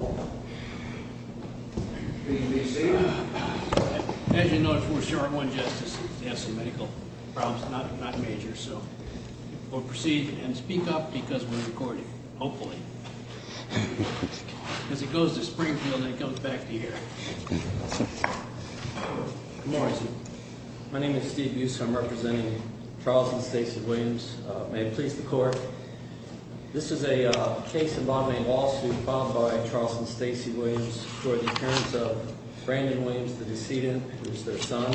As you know, it's for sure. One justice has some medical problems, not not major. So we'll proceed and speak up because we're recording, hopefully, because it goes to Springfield and it comes back to here. Good morning, sir. My name is Steve Buse. I'm representing Charles and Stacey Williams. May it please the court. This is a case involving a lawsuit filed by Charles and Stacey Williams for the appearance of Brandon Williams, the decedent, who's their son.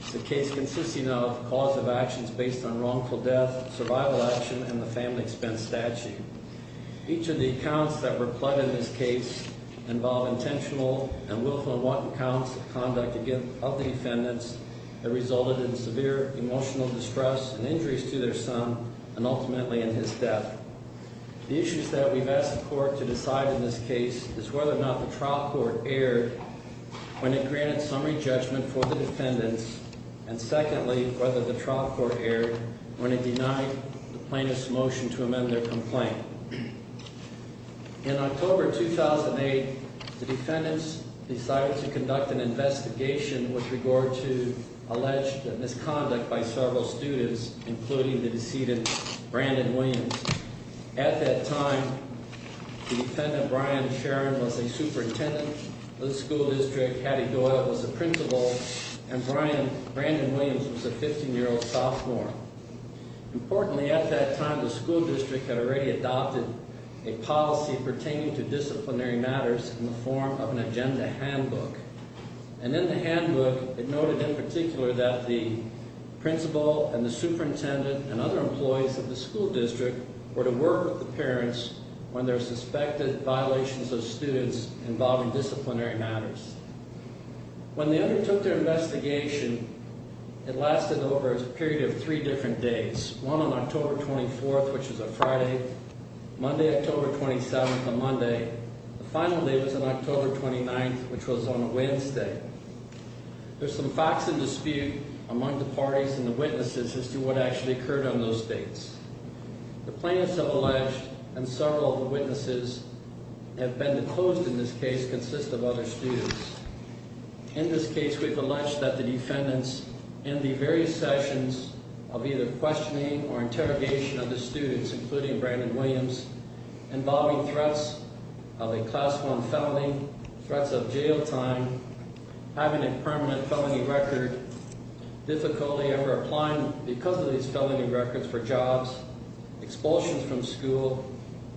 It's a case consisting of cause of actions based on wrongful death, survival action, and the family expense statute. Each of the accounts that were plugged in this case involve intentional and willful and wanton counts of conduct of the defendants that resulted in severe emotional distress and injuries to their son and ultimately in his death. The issues that we've asked the court to decide in this case is whether or not the trial court erred when it granted summary judgment for the defendants, and secondly, whether the trial court erred when it denied the plaintiff's motion to amend their complaint. In October 2008, the defendants decided to conduct an investigation with regard to alleged misconduct by several students, including the decedent, Brandon Williams. At that time, the defendant, Brian Sharon, was a superintendent of the school district. He had already adopted a policy pertaining to disciplinary matters in the form of an agenda handbook. And in the handbook, it noted in particular that the principal and the superintendent and other employees of the school district were to work with the parents when there were suspected violations of students involving disciplinary matters. When they undertook their investigation, it lasted over a period of three different days, one on October 24th, which was a Friday, Monday, October 27th, a Monday. The final day was on October 29th, which was on a Wednesday. There's some facts in dispute among the parties and the witnesses as to what actually occurred on those dates. The plaintiffs have alleged, and several of the witnesses have been disclosed in this case, consist of other students. In this case, we've alleged that the defendants, in the various sessions of either questioning or interrogation of the students, including Brandon Williams, involving threats of a Class 1 felony, threats of jail time, having a permanent felony record, difficulty ever applying because of these felony records for jobs, expulsions from school,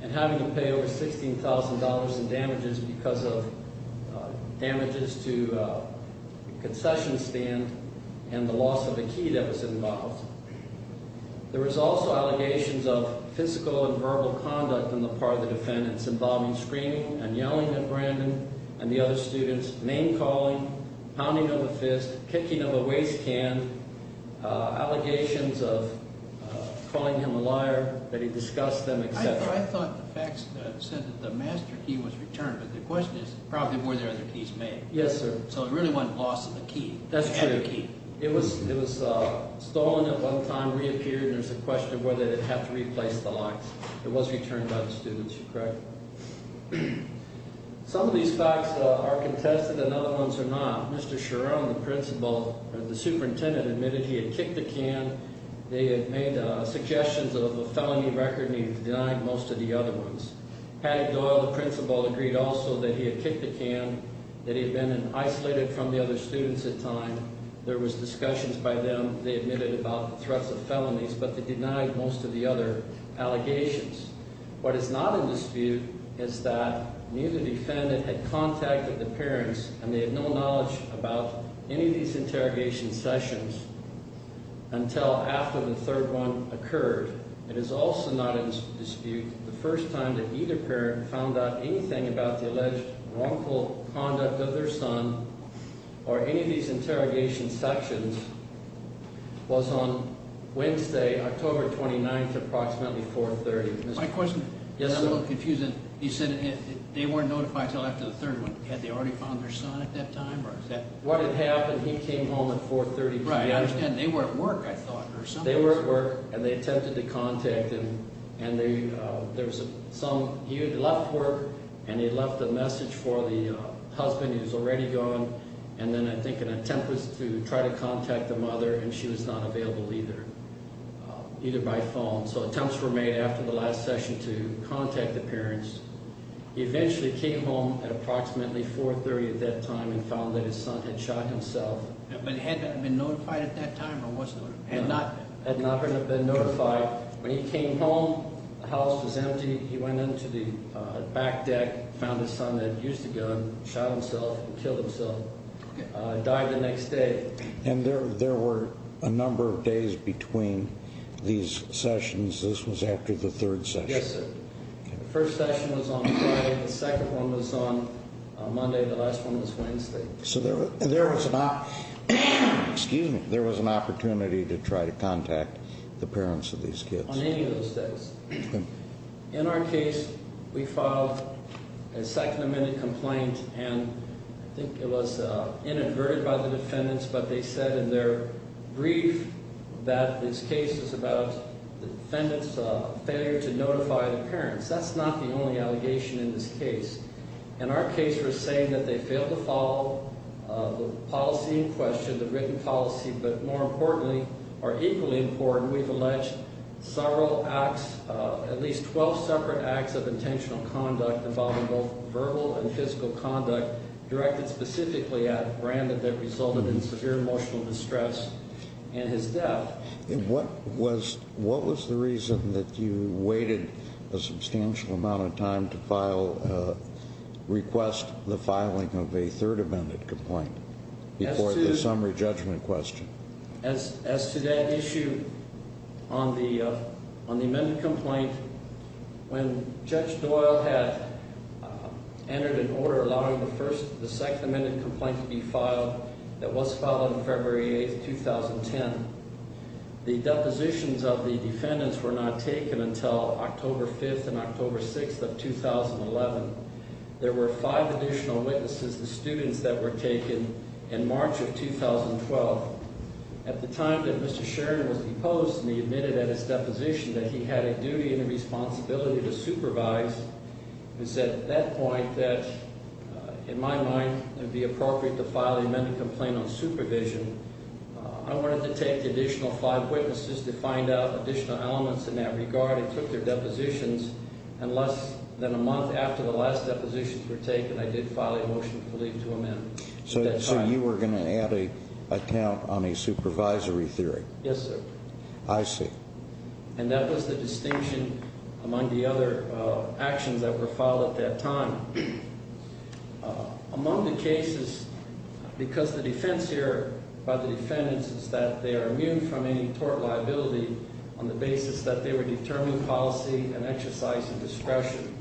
and having to pay over $16,000 in damages because of damage to the school. There were also allegations of physical and verbal conduct on the part of the defendants involving screaming and yelling at Brandon and the other students, name calling, pounding of a fist, kicking of a waste can, allegations of calling him a liar that he disgusts them, etc. I thought the facts said that the master key was returned, but the question is probably were there other keys made. Yes, sir. So it really wasn't loss of the key. That's true. It was stolen at one time, reappeared, and there's a question of whether it had to replace the locks. It was returned by the students, correct? Some of these facts are contested and other ones are not. Mr. Chiron, the principal, or the superintendent, admitted he had kicked the can. They had made suggestions of a felony record, and he denied most of the other ones. Patti Doyle, the principal, agreed also that he had kicked the can, that he had been isolated from the other students at the time. There was discussions by them, they admitted, about the threats of felonies, but they denied most of the other allegations. What is not in dispute is that neither defendant had contacted the parents, and they had no knowledge about any of these interrogation sessions until after the third one occurred. It is also not in dispute the first time that either parent found out anything about the alleged wrongful conduct of their son or any of these interrogation sessions was on Wednesday, October 29th, approximately 430. My question is a little confusing. He said they weren't notified until after the third one. Had they already found their son at that time? What had happened, he came home at 430. I understand they were at work, I thought. They were at work, and they attempted to contact him, and he had left work, and he had left a message for the husband who was already gone, and then I think an attempt was to try to contact the mother, and she was not available either, either by phone. So attempts were made after the last session to contact the parents. He eventually came home at approximately 430 at that time and found that his son had shot himself. But had he been notified at that time or was he notified? Had not been notified. When he came home, the house was empty. He went into the back deck, found his son had used a gun, shot himself, killed himself, died the next day. And there were a number of days between these sessions. This was after the third session. Yes, sir. The first session was on Friday. The second one was on Monday. The last one was Wednesday. So there was an opportunity to try to contact the parents of these kids. On any of those days. In our case, we filed a second amendment complaint, and I think it was inadverted by the defendants, but they said in their brief that this case was about the defendant's failure to notify the parents. That's not the only allegation in this case. In our case, we're saying that they failed to follow the policy in question, the written policy. But more importantly, or equally important, we've alleged several acts, at least 12 separate acts of intentional conduct involving both verbal and physical conduct directed specifically at Brandon that resulted in severe emotional distress and his death. What was the reason that you waited a substantial amount of time to request the filing of a third amendment complaint before the summary judgment question? As to that issue, on the amendment complaint, when Judge Doyle had entered an order allowing the second amendment complaint to be filed, that was filed on February 8th, 2010. The depositions of the defendants were not taken until October 5th and October 6th of 2011. There were five additional witnesses, the students, that were taken in March of 2012. At the time that Mr. Sharon was deposed, he admitted at his deposition that he had a duty and a responsibility to supervise. It was at that point that, in my mind, it would be appropriate to file an amendment complaint on supervision. I wanted to take the additional five witnesses to find out additional elements in that regard. I took their depositions, and less than a month after the last depositions were taken, I did file a motion for leave to amend. So you were going to add a count on a supervisory theory? Yes, sir. I see. And that was the distinction among the other actions that were filed at that time. Among the cases, because the defense here by the defendants is that they are immune from any tort liability on the basis that they would determine policy and exercise discretion.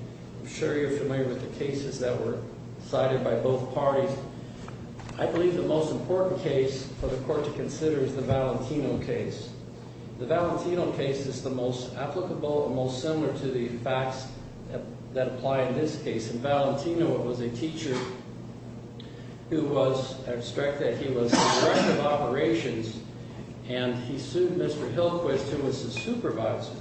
I'm sure you're familiar with the cases that were decided by both parties. I believe the most important case for the court to consider is the Valentino case. The Valentino case is the most applicable and most similar to the facts that apply in this case. In Valentino, it was a teacher who was obstructed. He was the director of operations, and he sued Mr. Hillquist, who was his supervisor.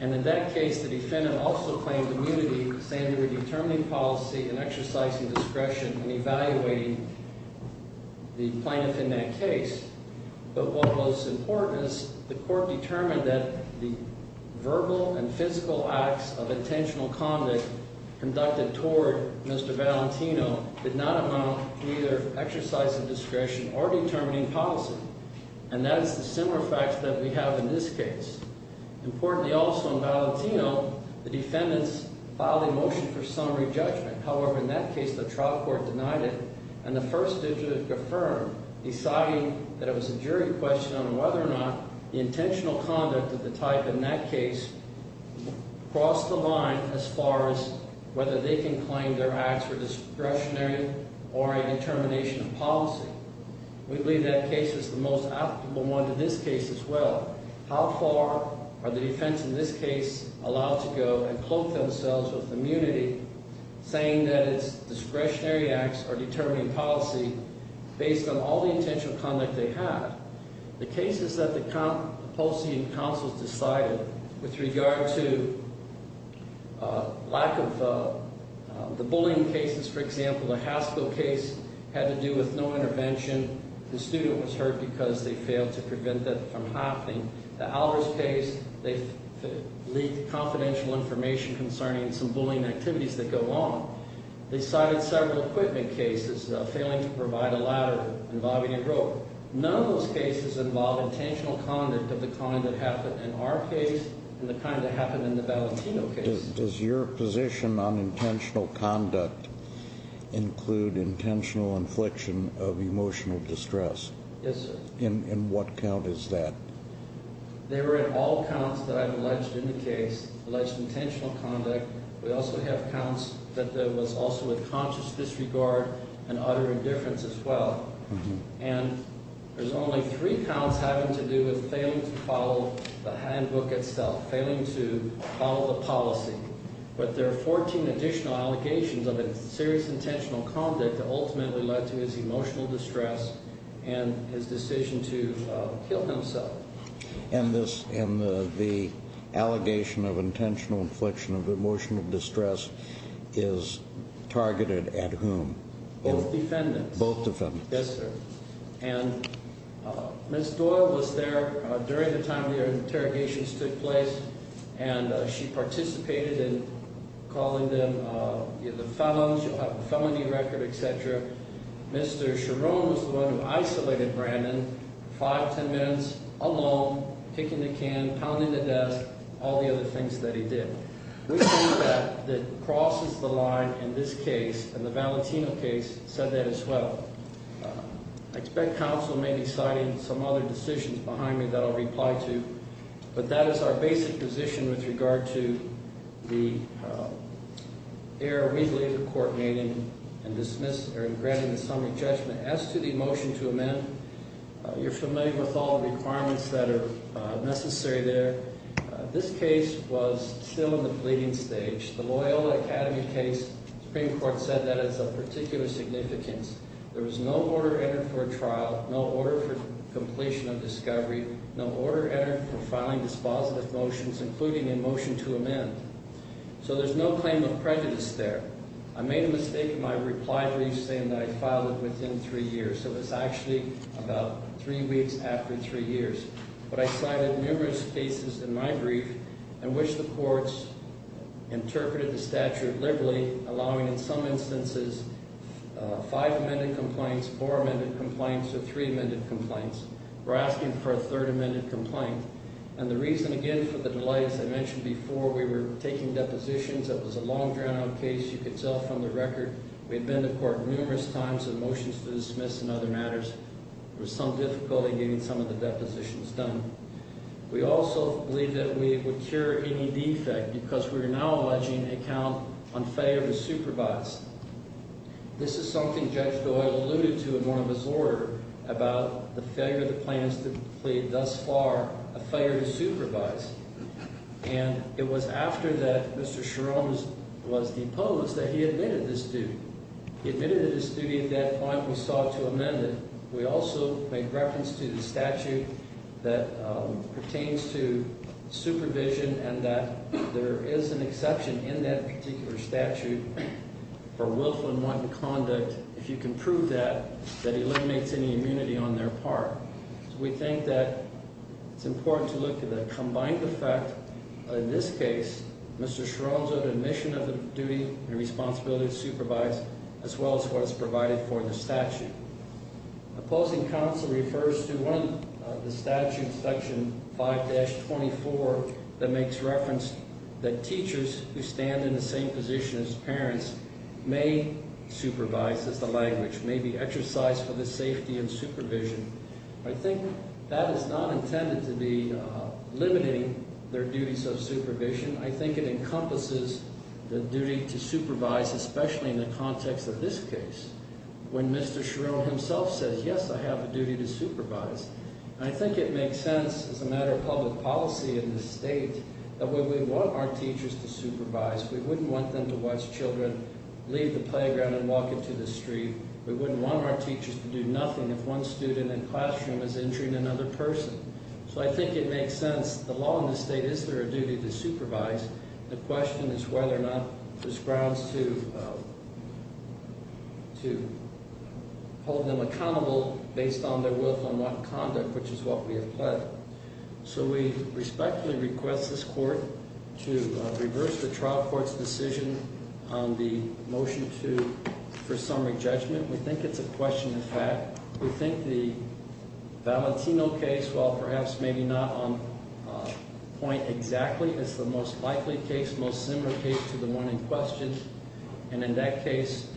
And in that case, the defendant also claimed immunity, saying they were determining policy and exercising discretion and evaluating the plaintiff in that case. But what was important is the court determined that the verbal and physical acts of intentional conduct conducted toward Mr. Valentino did not amount to either exercise of discretion or determining policy. And that is the similar facts that we have in this case. Importantly also in Valentino, the defendants filed a motion for summary judgment. However, in that case, the trial court denied it, and the first district affirmed, deciding that it was a jury question on whether or not the intentional conduct of the type in that case crossed the line as far as whether they can claim their acts were discretionary or a determination of policy. We believe that case is the most applicable one to this case as well. How far are the defense in this case allowed to go and cloak themselves with immunity, saying that its discretionary acts are determining policy based on all the intentional conduct they have? The cases that the policy and counsels decided with regard to lack of the bullying cases, for example, the Haskell case had to do with no intervention. The student was hurt because they failed to prevent that from happening. The Alvarez case, they leaked confidential information concerning some bullying activities that go on. They cited several equipment cases, failing to provide a ladder involving a rope. None of those cases involved intentional conduct of the kind that happened in our case and the kind that happened in the Valentino case. Does your position on intentional conduct include intentional infliction of emotional distress? Yes, sir. And what count is that? They were at all counts that I've alleged in the case, alleged intentional conduct. We also have counts that there was also a conscious disregard and utter indifference as well. And there's only three counts having to do with failing to follow the handbook itself, failing to follow the policy. But there are 14 additional allegations of serious intentional conduct that ultimately led to his emotional distress and his decision to kill himself. And the allegation of intentional infliction of emotional distress is targeted at whom? Both defendants. Both defendants. Yes, sir. And Ms. Doyle was there during the time the interrogations took place, and she participated in calling them the felons. She'll have a felony record, et cetera. Mr. Chiron was the one who isolated Brandon, five, ten minutes, alone, picking the can, pounding the desk, all the other things that he did. We think that that crosses the line in this case, and the Valentino case said that as well. I expect counsel may be citing some other decisions behind me that I'll reply to. But that is our basic position with regard to the error we believe the court made in dismiss or in granting the summary judgment. As to the motion to amend, you're familiar with all the requirements that are necessary there. This case was still in the pleading stage. The Loyola Academy case, the Supreme Court said that has a particular significance. There was no order entered for a trial, no order for completion of discovery, no order entered for filing dispositive motions, including a motion to amend. So there's no claim of prejudice there. I made a mistake in my reply brief saying that I'd file it within three years, so it's actually about three weeks after three years. But I cited numerous cases in my brief in which the courts interpreted the statute liberally, allowing in some instances five amended complaints, four amended complaints, or three amended complaints. We're asking for a third amended complaint. And the reason, again, for the delay, as I mentioned before, we were taking depositions. It was a long, drawn-out case. You could tell from the record we had been to court numerous times with motions to dismiss and other matters. There was some difficulty getting some of the depositions done. We also believe that we would cure any defect because we are now alleging a count on failure to supervise. This is something Judge Doyle alluded to in one of his orders about the failure of the plaintiffs to plead thus far, a failure to supervise. And it was after that Mr. Sherome was deposed that he admitted this duty. He admitted to this duty at that point. We sought to amend it. We also made reference to the statute that pertains to supervision and that there is an exception in that particular statute for willful and wanton conduct. If you can prove that, that eliminates any immunity on their part. So we think that it's important to look at that combined effect. In this case, Mr. Sherome's admission of the duty and responsibility to supervise as well as what is provided for in the statute. Opposing counsel refers to one of the statutes, section 5-24, that makes reference that teachers who stand in the same position as parents may supervise, as the language may be exercised for the safety and supervision. I think that is not intended to be limiting their duties of supervision. I think it encompasses the duty to supervise, especially in the context of this case when Mr. Sherome himself says, yes, I have a duty to supervise. And I think it makes sense as a matter of public policy in this state that when we want our teachers to supervise, we wouldn't want them to watch children leave the playground and walk into the street. We wouldn't want our teachers to do nothing if one student in the classroom is injuring another person. So I think it makes sense. The law in this state, is there a duty to supervise? The question is whether or not there's grounds to hold them accountable based on their willful and wanton conduct, which is what we have pled. So we respectfully request this court to reverse the trial court's decision on the motion for summary judgment. We think it's a question of fact. We think the Valentino case, while perhaps maybe not on point exactly, is the most likely case, most similar case to the one in question. And in that case,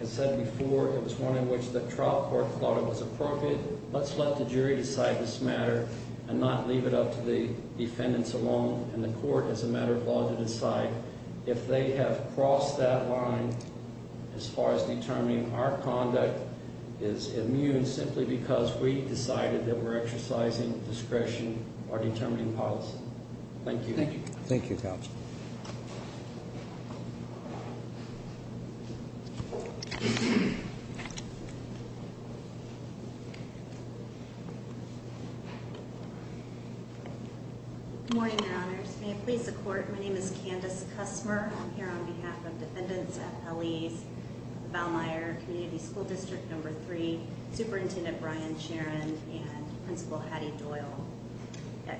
as said before, it was one in which the trial court thought it was appropriate. Let's let the jury decide this matter and not leave it up to the defendants alone and the court as a matter of law to decide if they have crossed that line as far as determining our conduct is immune simply because we decided that we're exercising discretion or determining policy. Thank you. Thank you, Counsel. Good morning, Your Honors. May it please the court, my name is Candace Kussmer. I'm here on behalf of defendants at L.E.'s, Valmeyer, Community School District Number 3, Superintendent Brian Charon, and Principal Hattie Doyle.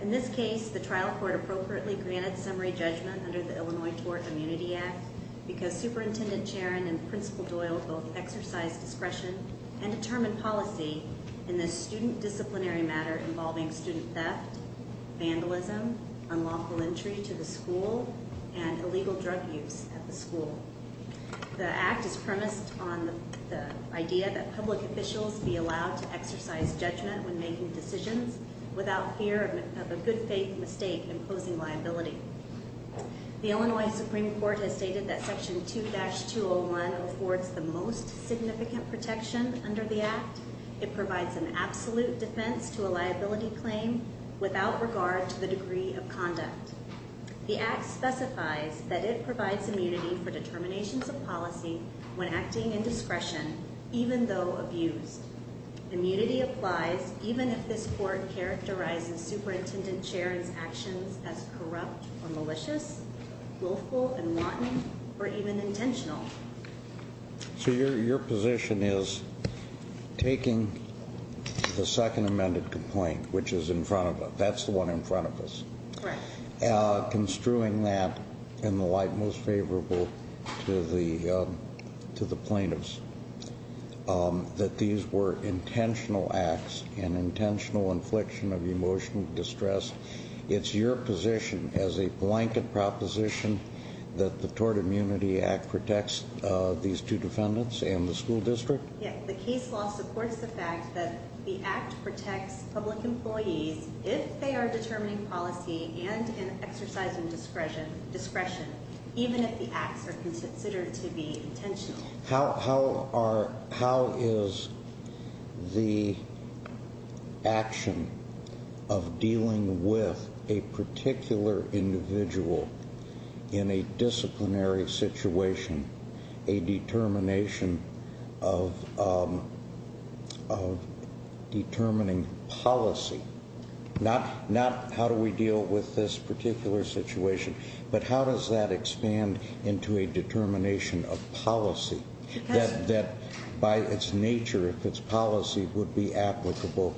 In this case, the trial court appropriately granted summary judgment under the Illinois Tort Immunity Act because Superintendent Charon and Principal Doyle both exercised discretion and determined policy in this student disciplinary matter involving student theft, vandalism, unlawful entry to the school, and illegal drug use at the school. The act is premised on the idea that public officials be allowed to exercise judgment when making decisions without fear of a good faith mistake imposing liability. The Illinois Supreme Court has stated that Section 2-201 affords the most significant protection under the act. It provides an absolute defense to a liability claim without regard to the degree of conduct. The act specifies that it provides immunity for determinations of policy when acting in discretion even though abused. Immunity applies even if this court characterizes Superintendent Charon's actions as corrupt or malicious, willful and wanton, or even intentional. So your position is taking the second amended complaint, which is in front of us, that's the one in front of us, construing that in the light most favorable to the plaintiffs, that these were intentional acts and intentional infliction of emotional distress. It's your position as a blanket proposition that the Tort Immunity Act protects these two defendants and the school district? Yes, the case law supports the fact that the act protects public employees if they are determining policy and exercising discretion, even if the acts are considered to be intentional. How is the action of dealing with a particular individual in a disciplinary situation a determination of determining policy? Not how do we deal with this particular situation, but how does that expand into a determination of policy that by its nature, if it's policy, would be applicable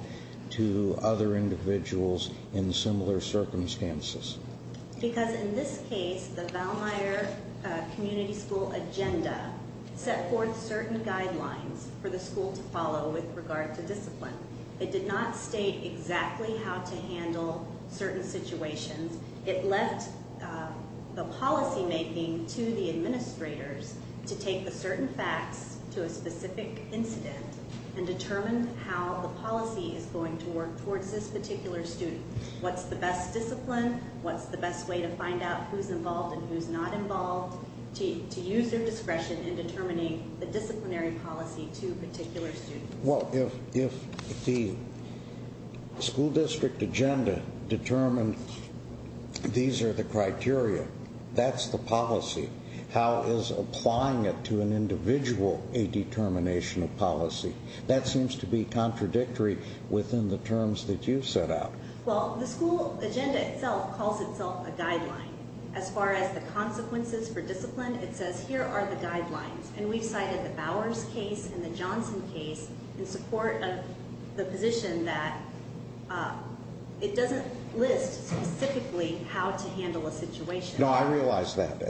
to other individuals in similar circumstances? Because in this case, the Valmeier Community School agenda set forth certain guidelines for the school to follow with regard to discipline. It did not state exactly how to handle certain situations. It left the policy making to the administrators to take the certain facts to a specific incident and determine how the policy is going to work towards this particular student. What's the best discipline? What's the best way to find out who's involved and who's not involved? To use their discretion in determining the disciplinary policy to a particular student. Well, if the school district agenda determined these are the criteria, that's the policy. How is applying it to an individual a determination of policy? That seems to be contradictory within the terms that you set out. Well, the school agenda itself calls itself a guideline. As far as the consequences for discipline, it says here are the guidelines. And we've cited the Bowers case and the Johnson case in support of the position that it doesn't list specifically how to handle a situation. No, I realize that.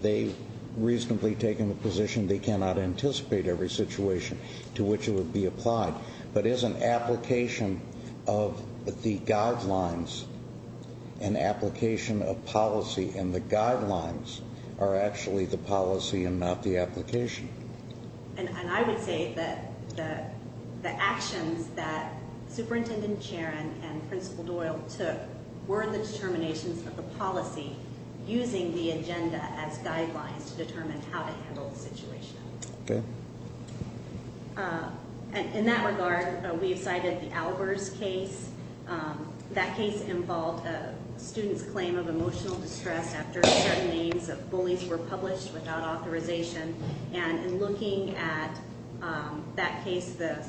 They've reasonably taken the position they cannot anticipate every situation to which it would be applied. But is an application of the guidelines an application of policy? And the guidelines are actually the policy and not the application. And I would say that the actions that Superintendent Charron and Principal Doyle took were the determinations of the policy using the agenda as guidelines to determine how to handle the situation. In that regard, we've cited the Albers case. That case involved a student's claim of emotional distress after certain names of bullies were published without authorization. And in looking at that case, the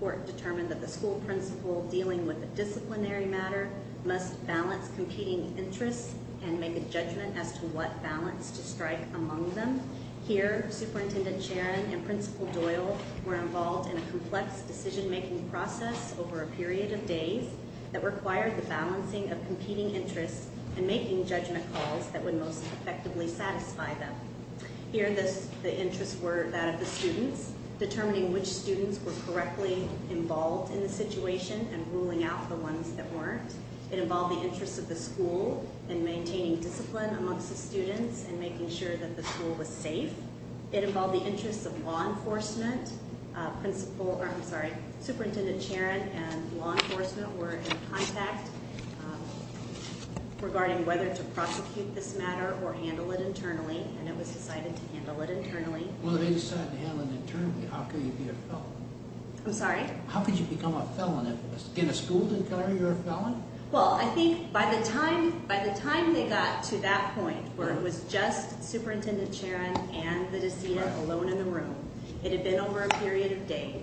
court determined that the school principal dealing with a disciplinary matter must balance competing interests and make a judgment as to what balance to strike among them. Here, Superintendent Charron and Principal Doyle were involved in a complex decision-making process over a period of days that required the balancing of competing interests and making judgment calls that would most effectively satisfy them. Here, the interests were that of the students, determining which students were correctly involved in the situation and ruling out the ones that weren't. It involved the interests of the school in maintaining discipline amongst the students and making sure that the school was safe. It involved the interests of law enforcement. Principal – I'm sorry, Superintendent Charron and law enforcement were in contact regarding whether to prosecute this matter or handle it internally. And it was decided to handle it internally. Well, they decided to handle it internally. How could you be a felon? I'm sorry? How could you become a felon? Did the school declare you a felon? Well, I think by the time they got to that point where it was just Superintendent Charron and the decedent alone in the room, it had been over a period of days.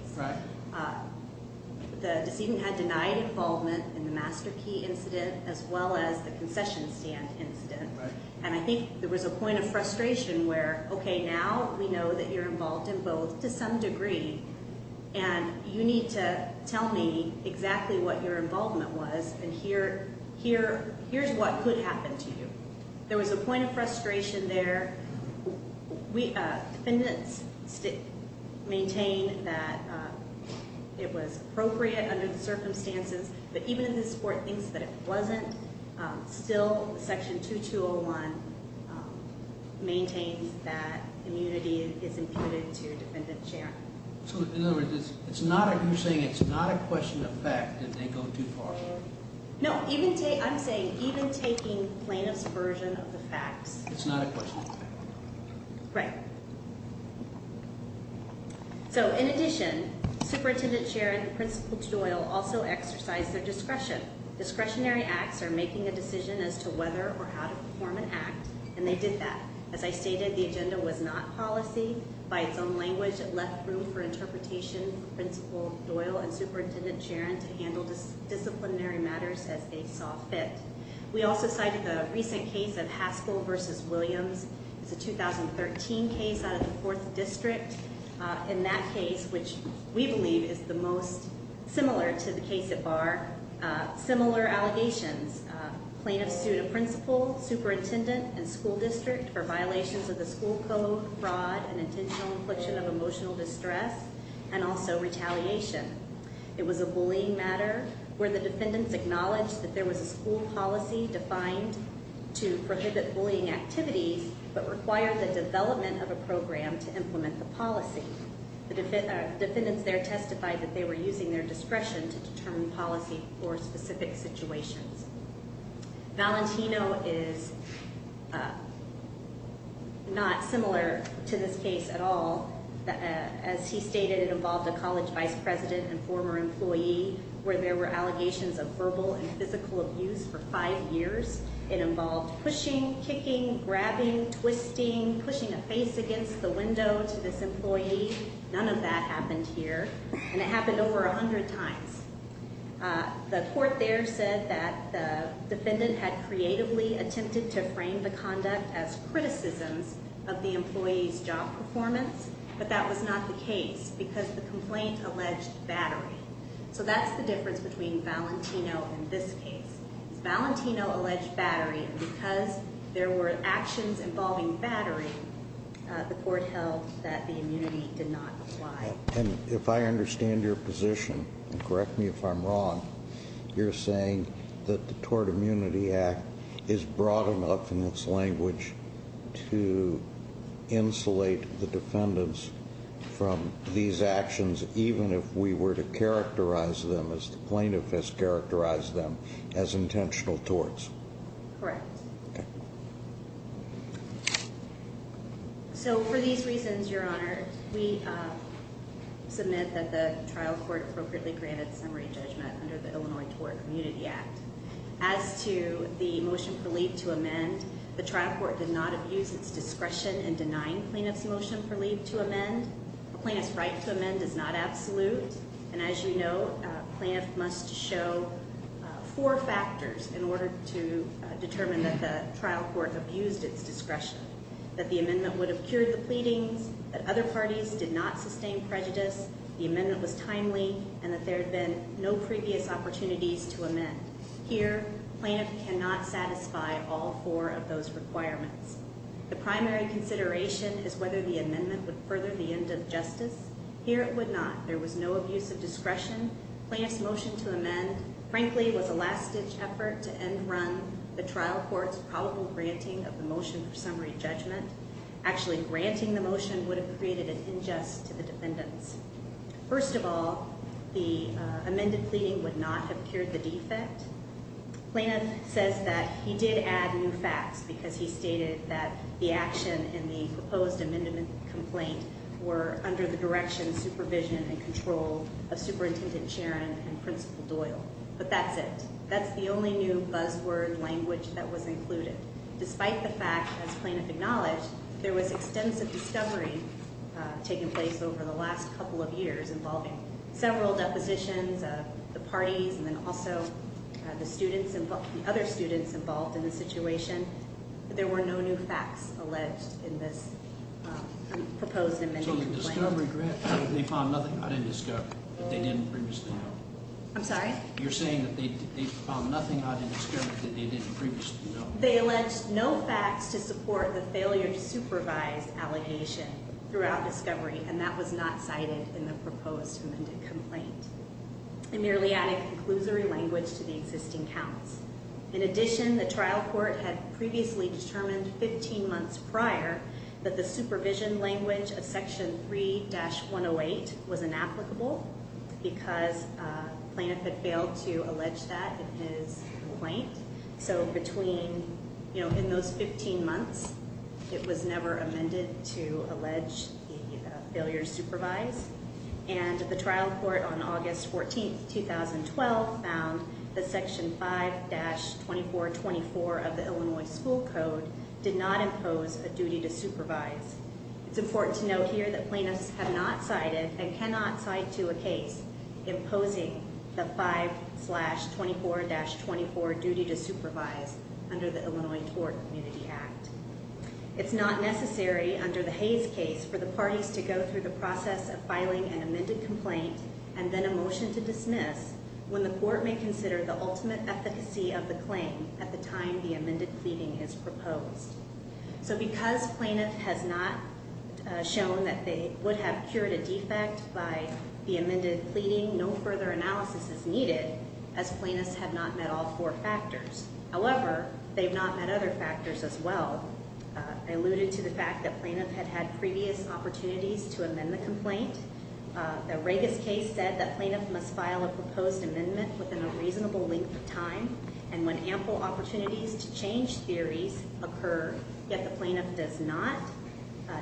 The decedent had denied involvement in the Master Key incident as well as the concession stand incident. And I think there was a point of frustration where, okay, now we know that you're involved in both to some degree and you need to tell me exactly what your involvement was and here's what could happen to you. There was a point of frustration there. Defendants maintain that it was appropriate under the circumstances, but even if this court thinks that it wasn't, still Section 2201 maintains that immunity is imputed to Defendant Charron. So, in other words, you're saying it's not a question of fact that they go too far? No, I'm saying even taking plaintiff's version of the facts – It's not a question of fact. Right. So, in addition, Superintendent Charron and Principal Doyle also exercised their discretion. Discretionary acts are making a decision as to whether or how to perform an act, and they did that. As I stated, the agenda was not policy. By its own language, it left room for interpretation for Principal Doyle and Superintendent Charron to handle disciplinary matters as they saw fit. We also cited the recent case of Haskell v. Williams. It's a 2013 case out of the 4th District. In that case, which we believe is the most similar to the case at Barr, similar allegations. Plaintiffs sued a principal, superintendent, and school district for violations of the school code, fraud, and intentional infliction of emotional distress, and also retaliation. It was a bullying matter where the defendants acknowledged that there was a school policy defined to prohibit bullying activities but required the development of a program to implement the policy. The defendants there testified that they were using their discretion to determine policy for specific situations. Valentino is not similar to this case at all. As he stated, it involved a college vice president and former employee where there were allegations of verbal and physical abuse for five years. It involved pushing, kicking, grabbing, twisting, pushing a face against the window to this employee. None of that happened here, and it happened over 100 times. The court there said that the defendant had creatively attempted to frame the conduct as criticisms of the employee's job performance, but that was not the case because the complaint alleged battery. So that's the difference between Valentino and this case. Valentino alleged battery, and because there were actions involving battery, the court held that the immunity did not apply. And if I understand your position, and correct me if I'm wrong, you're saying that the Tort Immunity Act is broad enough in its language to insulate the defendants from these actions even if we were to characterize them, as the plaintiff has characterized them, as intentional torts? Correct. So for these reasons, Your Honor, we submit that the trial court appropriately granted summary judgment under the Illinois Tort Immunity Act. As to the motion for leave to amend, the trial court did not abuse its discretion in denying plaintiff's motion for leave to amend. A plaintiff's right to amend is not absolute, and as you know, a plaintiff must show four factors in order to determine that the trial court abused its discretion. That the amendment would have cured the pleadings, that other parties did not sustain prejudice, the amendment was timely, and that there had been no previous opportunities to amend. Here, a plaintiff cannot satisfy all four of those requirements. The primary consideration is whether the amendment would further the end of justice. Here, it would not. There was no abuse of discretion. Plaintiff's motion to amend, frankly, was a last-ditch effort to end-run the trial court's probable granting of the motion for summary judgment. Actually granting the motion would have created an ingest to the defendants. First of all, the amended pleading would not have cured the defect. Plaintiff says that he did add new facts because he stated that the action in the proposed amendment complaint were under the direction, supervision, and control of Superintendent Charon and Principal Doyle. But that's it. That's the only new buzzword language that was included. Despite the fact, as plaintiff acknowledged, there was extensive discovery taking place over the last couple of years involving several depositions of the parties and then also the other students involved in the situation. There were no new facts alleged in this proposed amendment complaint. So the discovery grant, they found nothing? I didn't discover that they didn't previously know. I'm sorry? You're saying that they found nothing? I didn't discover that they didn't previously know. They alleged no facts to support the failure to supervise allegation throughout discovery, and that was not cited in the proposed amendment complaint. It merely added conclusory language to the existing counts. In addition, the trial court had previously determined 15 months prior that the supervision language of Section 3-108 was inapplicable because plaintiff had failed to allege that in his complaint. So between, you know, in those 15 months, it was never amended to allege the failure to supervise. And the trial court on August 14, 2012, found that Section 5-2424 of the Illinois School Code did not impose a duty to supervise. It's important to note here that plaintiffs have not cited and cannot cite to a case imposing the 5-24-24 duty to supervise under the Illinois Court Community Act. It's not necessary under the Hayes case for the parties to go through the process of filing an amended complaint and then a motion to dismiss when the court may consider the ultimate efficacy of the claim at the time the amended pleading is proposed. So because plaintiff has not shown that they would have cured a defect by the amended pleading, no further analysis is needed as plaintiffs have not met all four factors. However, they've not met other factors as well. I alluded to the fact that plaintiff had had previous opportunities to amend the complaint. The Regas case said that plaintiff must file a proposed amendment within a reasonable length of time and when ample opportunities to change theories occur, yet the plaintiff does not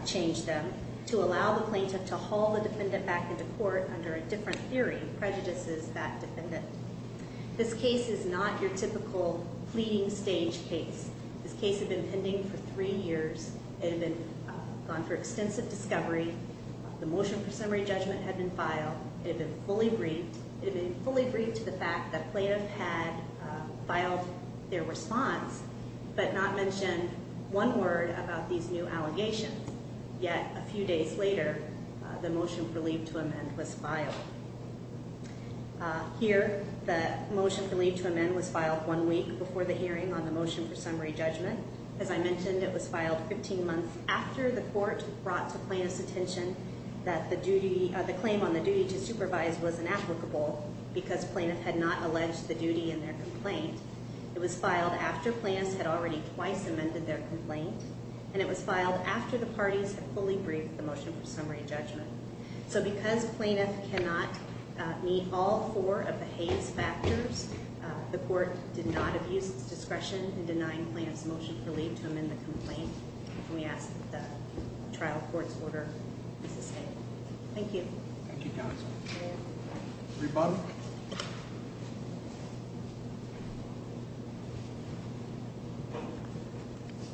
change them, to allow the plaintiff to haul the defendant back into court under a different theory prejudices that defendant. This case is not your typical pleading stage case. This case had been pending for three years. It had gone through extensive discovery. The motion for summary judgment had been filed. It had been fully briefed. It had been fully briefed to the fact that plaintiff had filed their response, but not mentioned one word about these new allegations. Yet a few days later, the motion for leave to amend was filed. Here, the motion for leave to amend was filed one week before the hearing on the motion for summary judgment. As I mentioned, it was filed 15 months after the court brought to plaintiff's attention that the claim on the duty to supervise was inapplicable because plaintiff had not alleged the duty in their complaint. It was filed after plaintiffs had already twice amended their complaint, and it was filed after the parties had fully briefed the motion for summary judgment. So because plaintiff cannot meet all four of the Hays factors, the court did not abuse its discretion in denying plaintiff's motion for leave to amend the complaint, and we ask that the trial court's order be sustained. Thank you. Thank you, counsel. Rebuttal.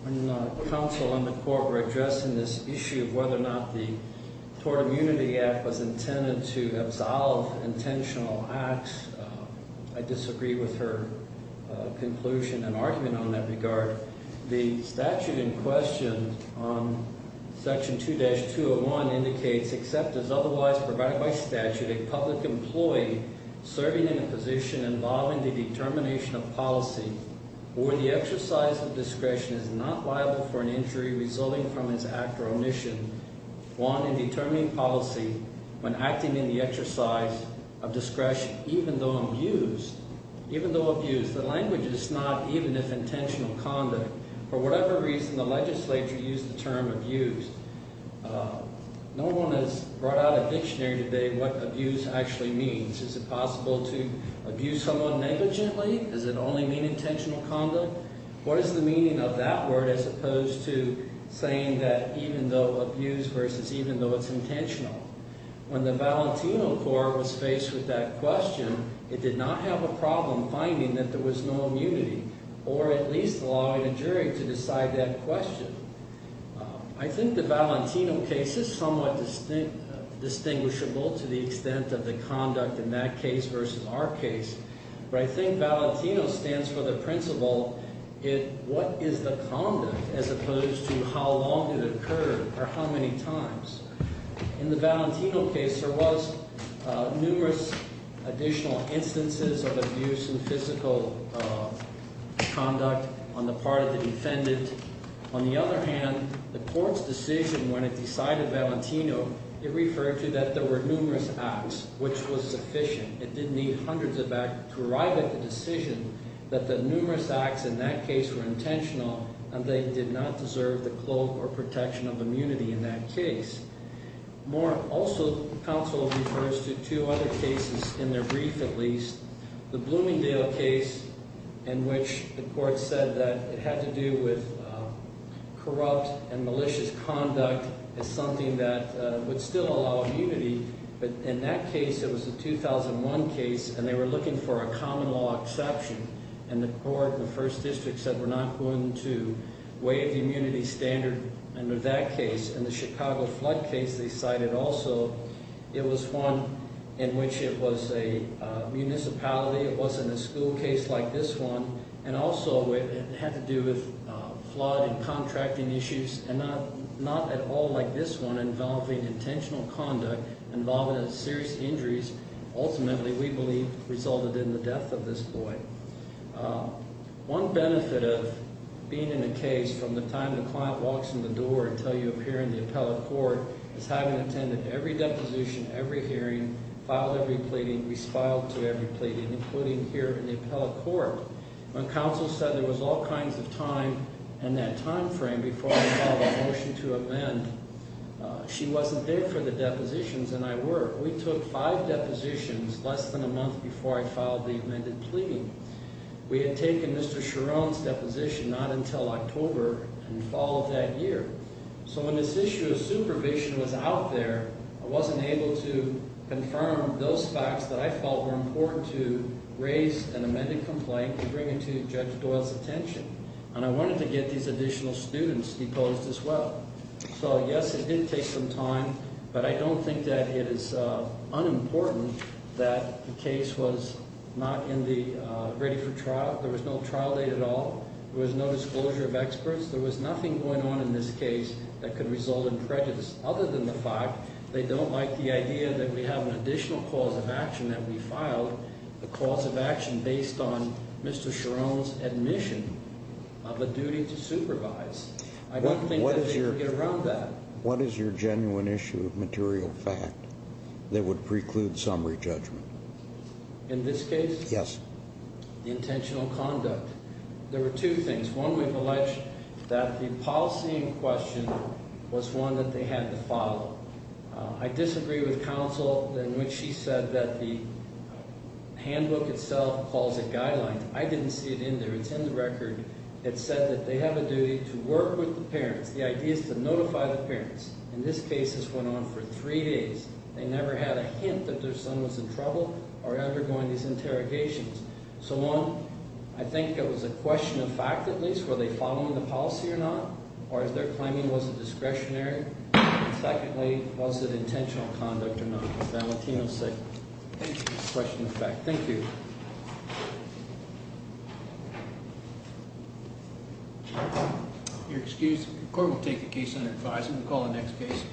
When counsel and the court were addressing this issue of whether or not the Tort Immunity Act was intended to absolve intentional acts, I disagree with her conclusion and argument on that regard. The statute in question, Section 2-201, indicates, except as otherwise provided by statute, a public employee serving in a position involving the determination of policy or the exercise of discretion is not liable for an injury resulting from his act or omission, one in determining policy when acting in the exercise of discretion, even though abused. In other words, the language is not even if intentional conduct. For whatever reason, the legislature used the term abused. No one has brought out a dictionary today what abused actually means. Is it possible to abuse someone negligently? Does it only mean intentional conduct? What is the meaning of that word as opposed to saying that even though abused versus even though it's intentional? When the Valentino court was faced with that question, it did not have a problem finding that there was no immunity or at least allowing a jury to decide that question. I think the Valentino case is somewhat distinguishable to the extent of the conduct in that case versus our case. But I think Valentino stands for the principle, what is the conduct as opposed to how long it occurred or how many times. In the Valentino case, there was numerous additional instances of abuse and physical conduct on the part of the defendant. On the other hand, the court's decision when it decided Valentino, it referred to that there were numerous acts, which was sufficient. It didn't need hundreds of acts to arrive at the decision that the numerous acts in that case were intentional and they did not deserve the cloak or protection of immunity in that case. More also, counsel refers to two other cases in their brief at least. The Bloomingdale case in which the court said that it had to do with corrupt and malicious conduct is something that would still allow immunity. But in that case, it was a 2001 case and they were looking for a common law exception. The court in the first district said we're not going to waive the immunity standard under that case. In the Chicago flood case they cited also, it was one in which it was a municipality. It wasn't a school case like this one. Also, it had to do with flood and contracting issues and not at all like this one involving intentional conduct, involving serious injuries. Ultimately, we believe resulted in the death of this boy. One benefit of being in a case from the time the client walks in the door until you appear in the appellate court is having attended every deposition, every hearing, filed every pleading, respiled to every pleading, including here in the appellate court. When counsel said there was all kinds of time in that time frame before we filed a motion to amend, she wasn't there for the depositions and I weren't. However, we took five depositions less than a month before I filed the amended pleading. We had taken Mr. Cherone's deposition not until October and fall of that year. So when this issue of supervision was out there, I wasn't able to confirm those facts that I felt were important to raise an amended complaint and bring it to Judge Doyle's attention. And I wanted to get these additional students deposed as well. So yes, it did take some time, but I don't think that it is unimportant that the case was not in the ready for trial. There was no trial date at all. There was no disclosure of experts. There was nothing going on in this case that could result in prejudice other than the fact they don't like the idea that we have an additional cause of action that we filed, a cause of action based on Mr. Cherone's admission of a duty to supervise. I don't think that they could get around that. What is your genuine issue of material fact that would preclude summary judgment? In this case? Yes. The intentional conduct. There were two things. One, we've alleged that the policy in question was one that they had to follow. I disagree with counsel in which she said that the handbook itself calls it guideline. I didn't see it in there. It's in the record. It said that they have a duty to work with the parents. The idea is to notify the parents. In this case, this went on for three days. They never had a hint that their son was in trouble or undergoing these interrogations. So, one, I think it was a question of fact, at least, were they following the policy or not, or is there claiming it was a discretionary? And secondly, was it intentional conduct or not? As Valentino said, it was a question of fact. Thank you. You're excused. The court will take the case under advisement and call the next case.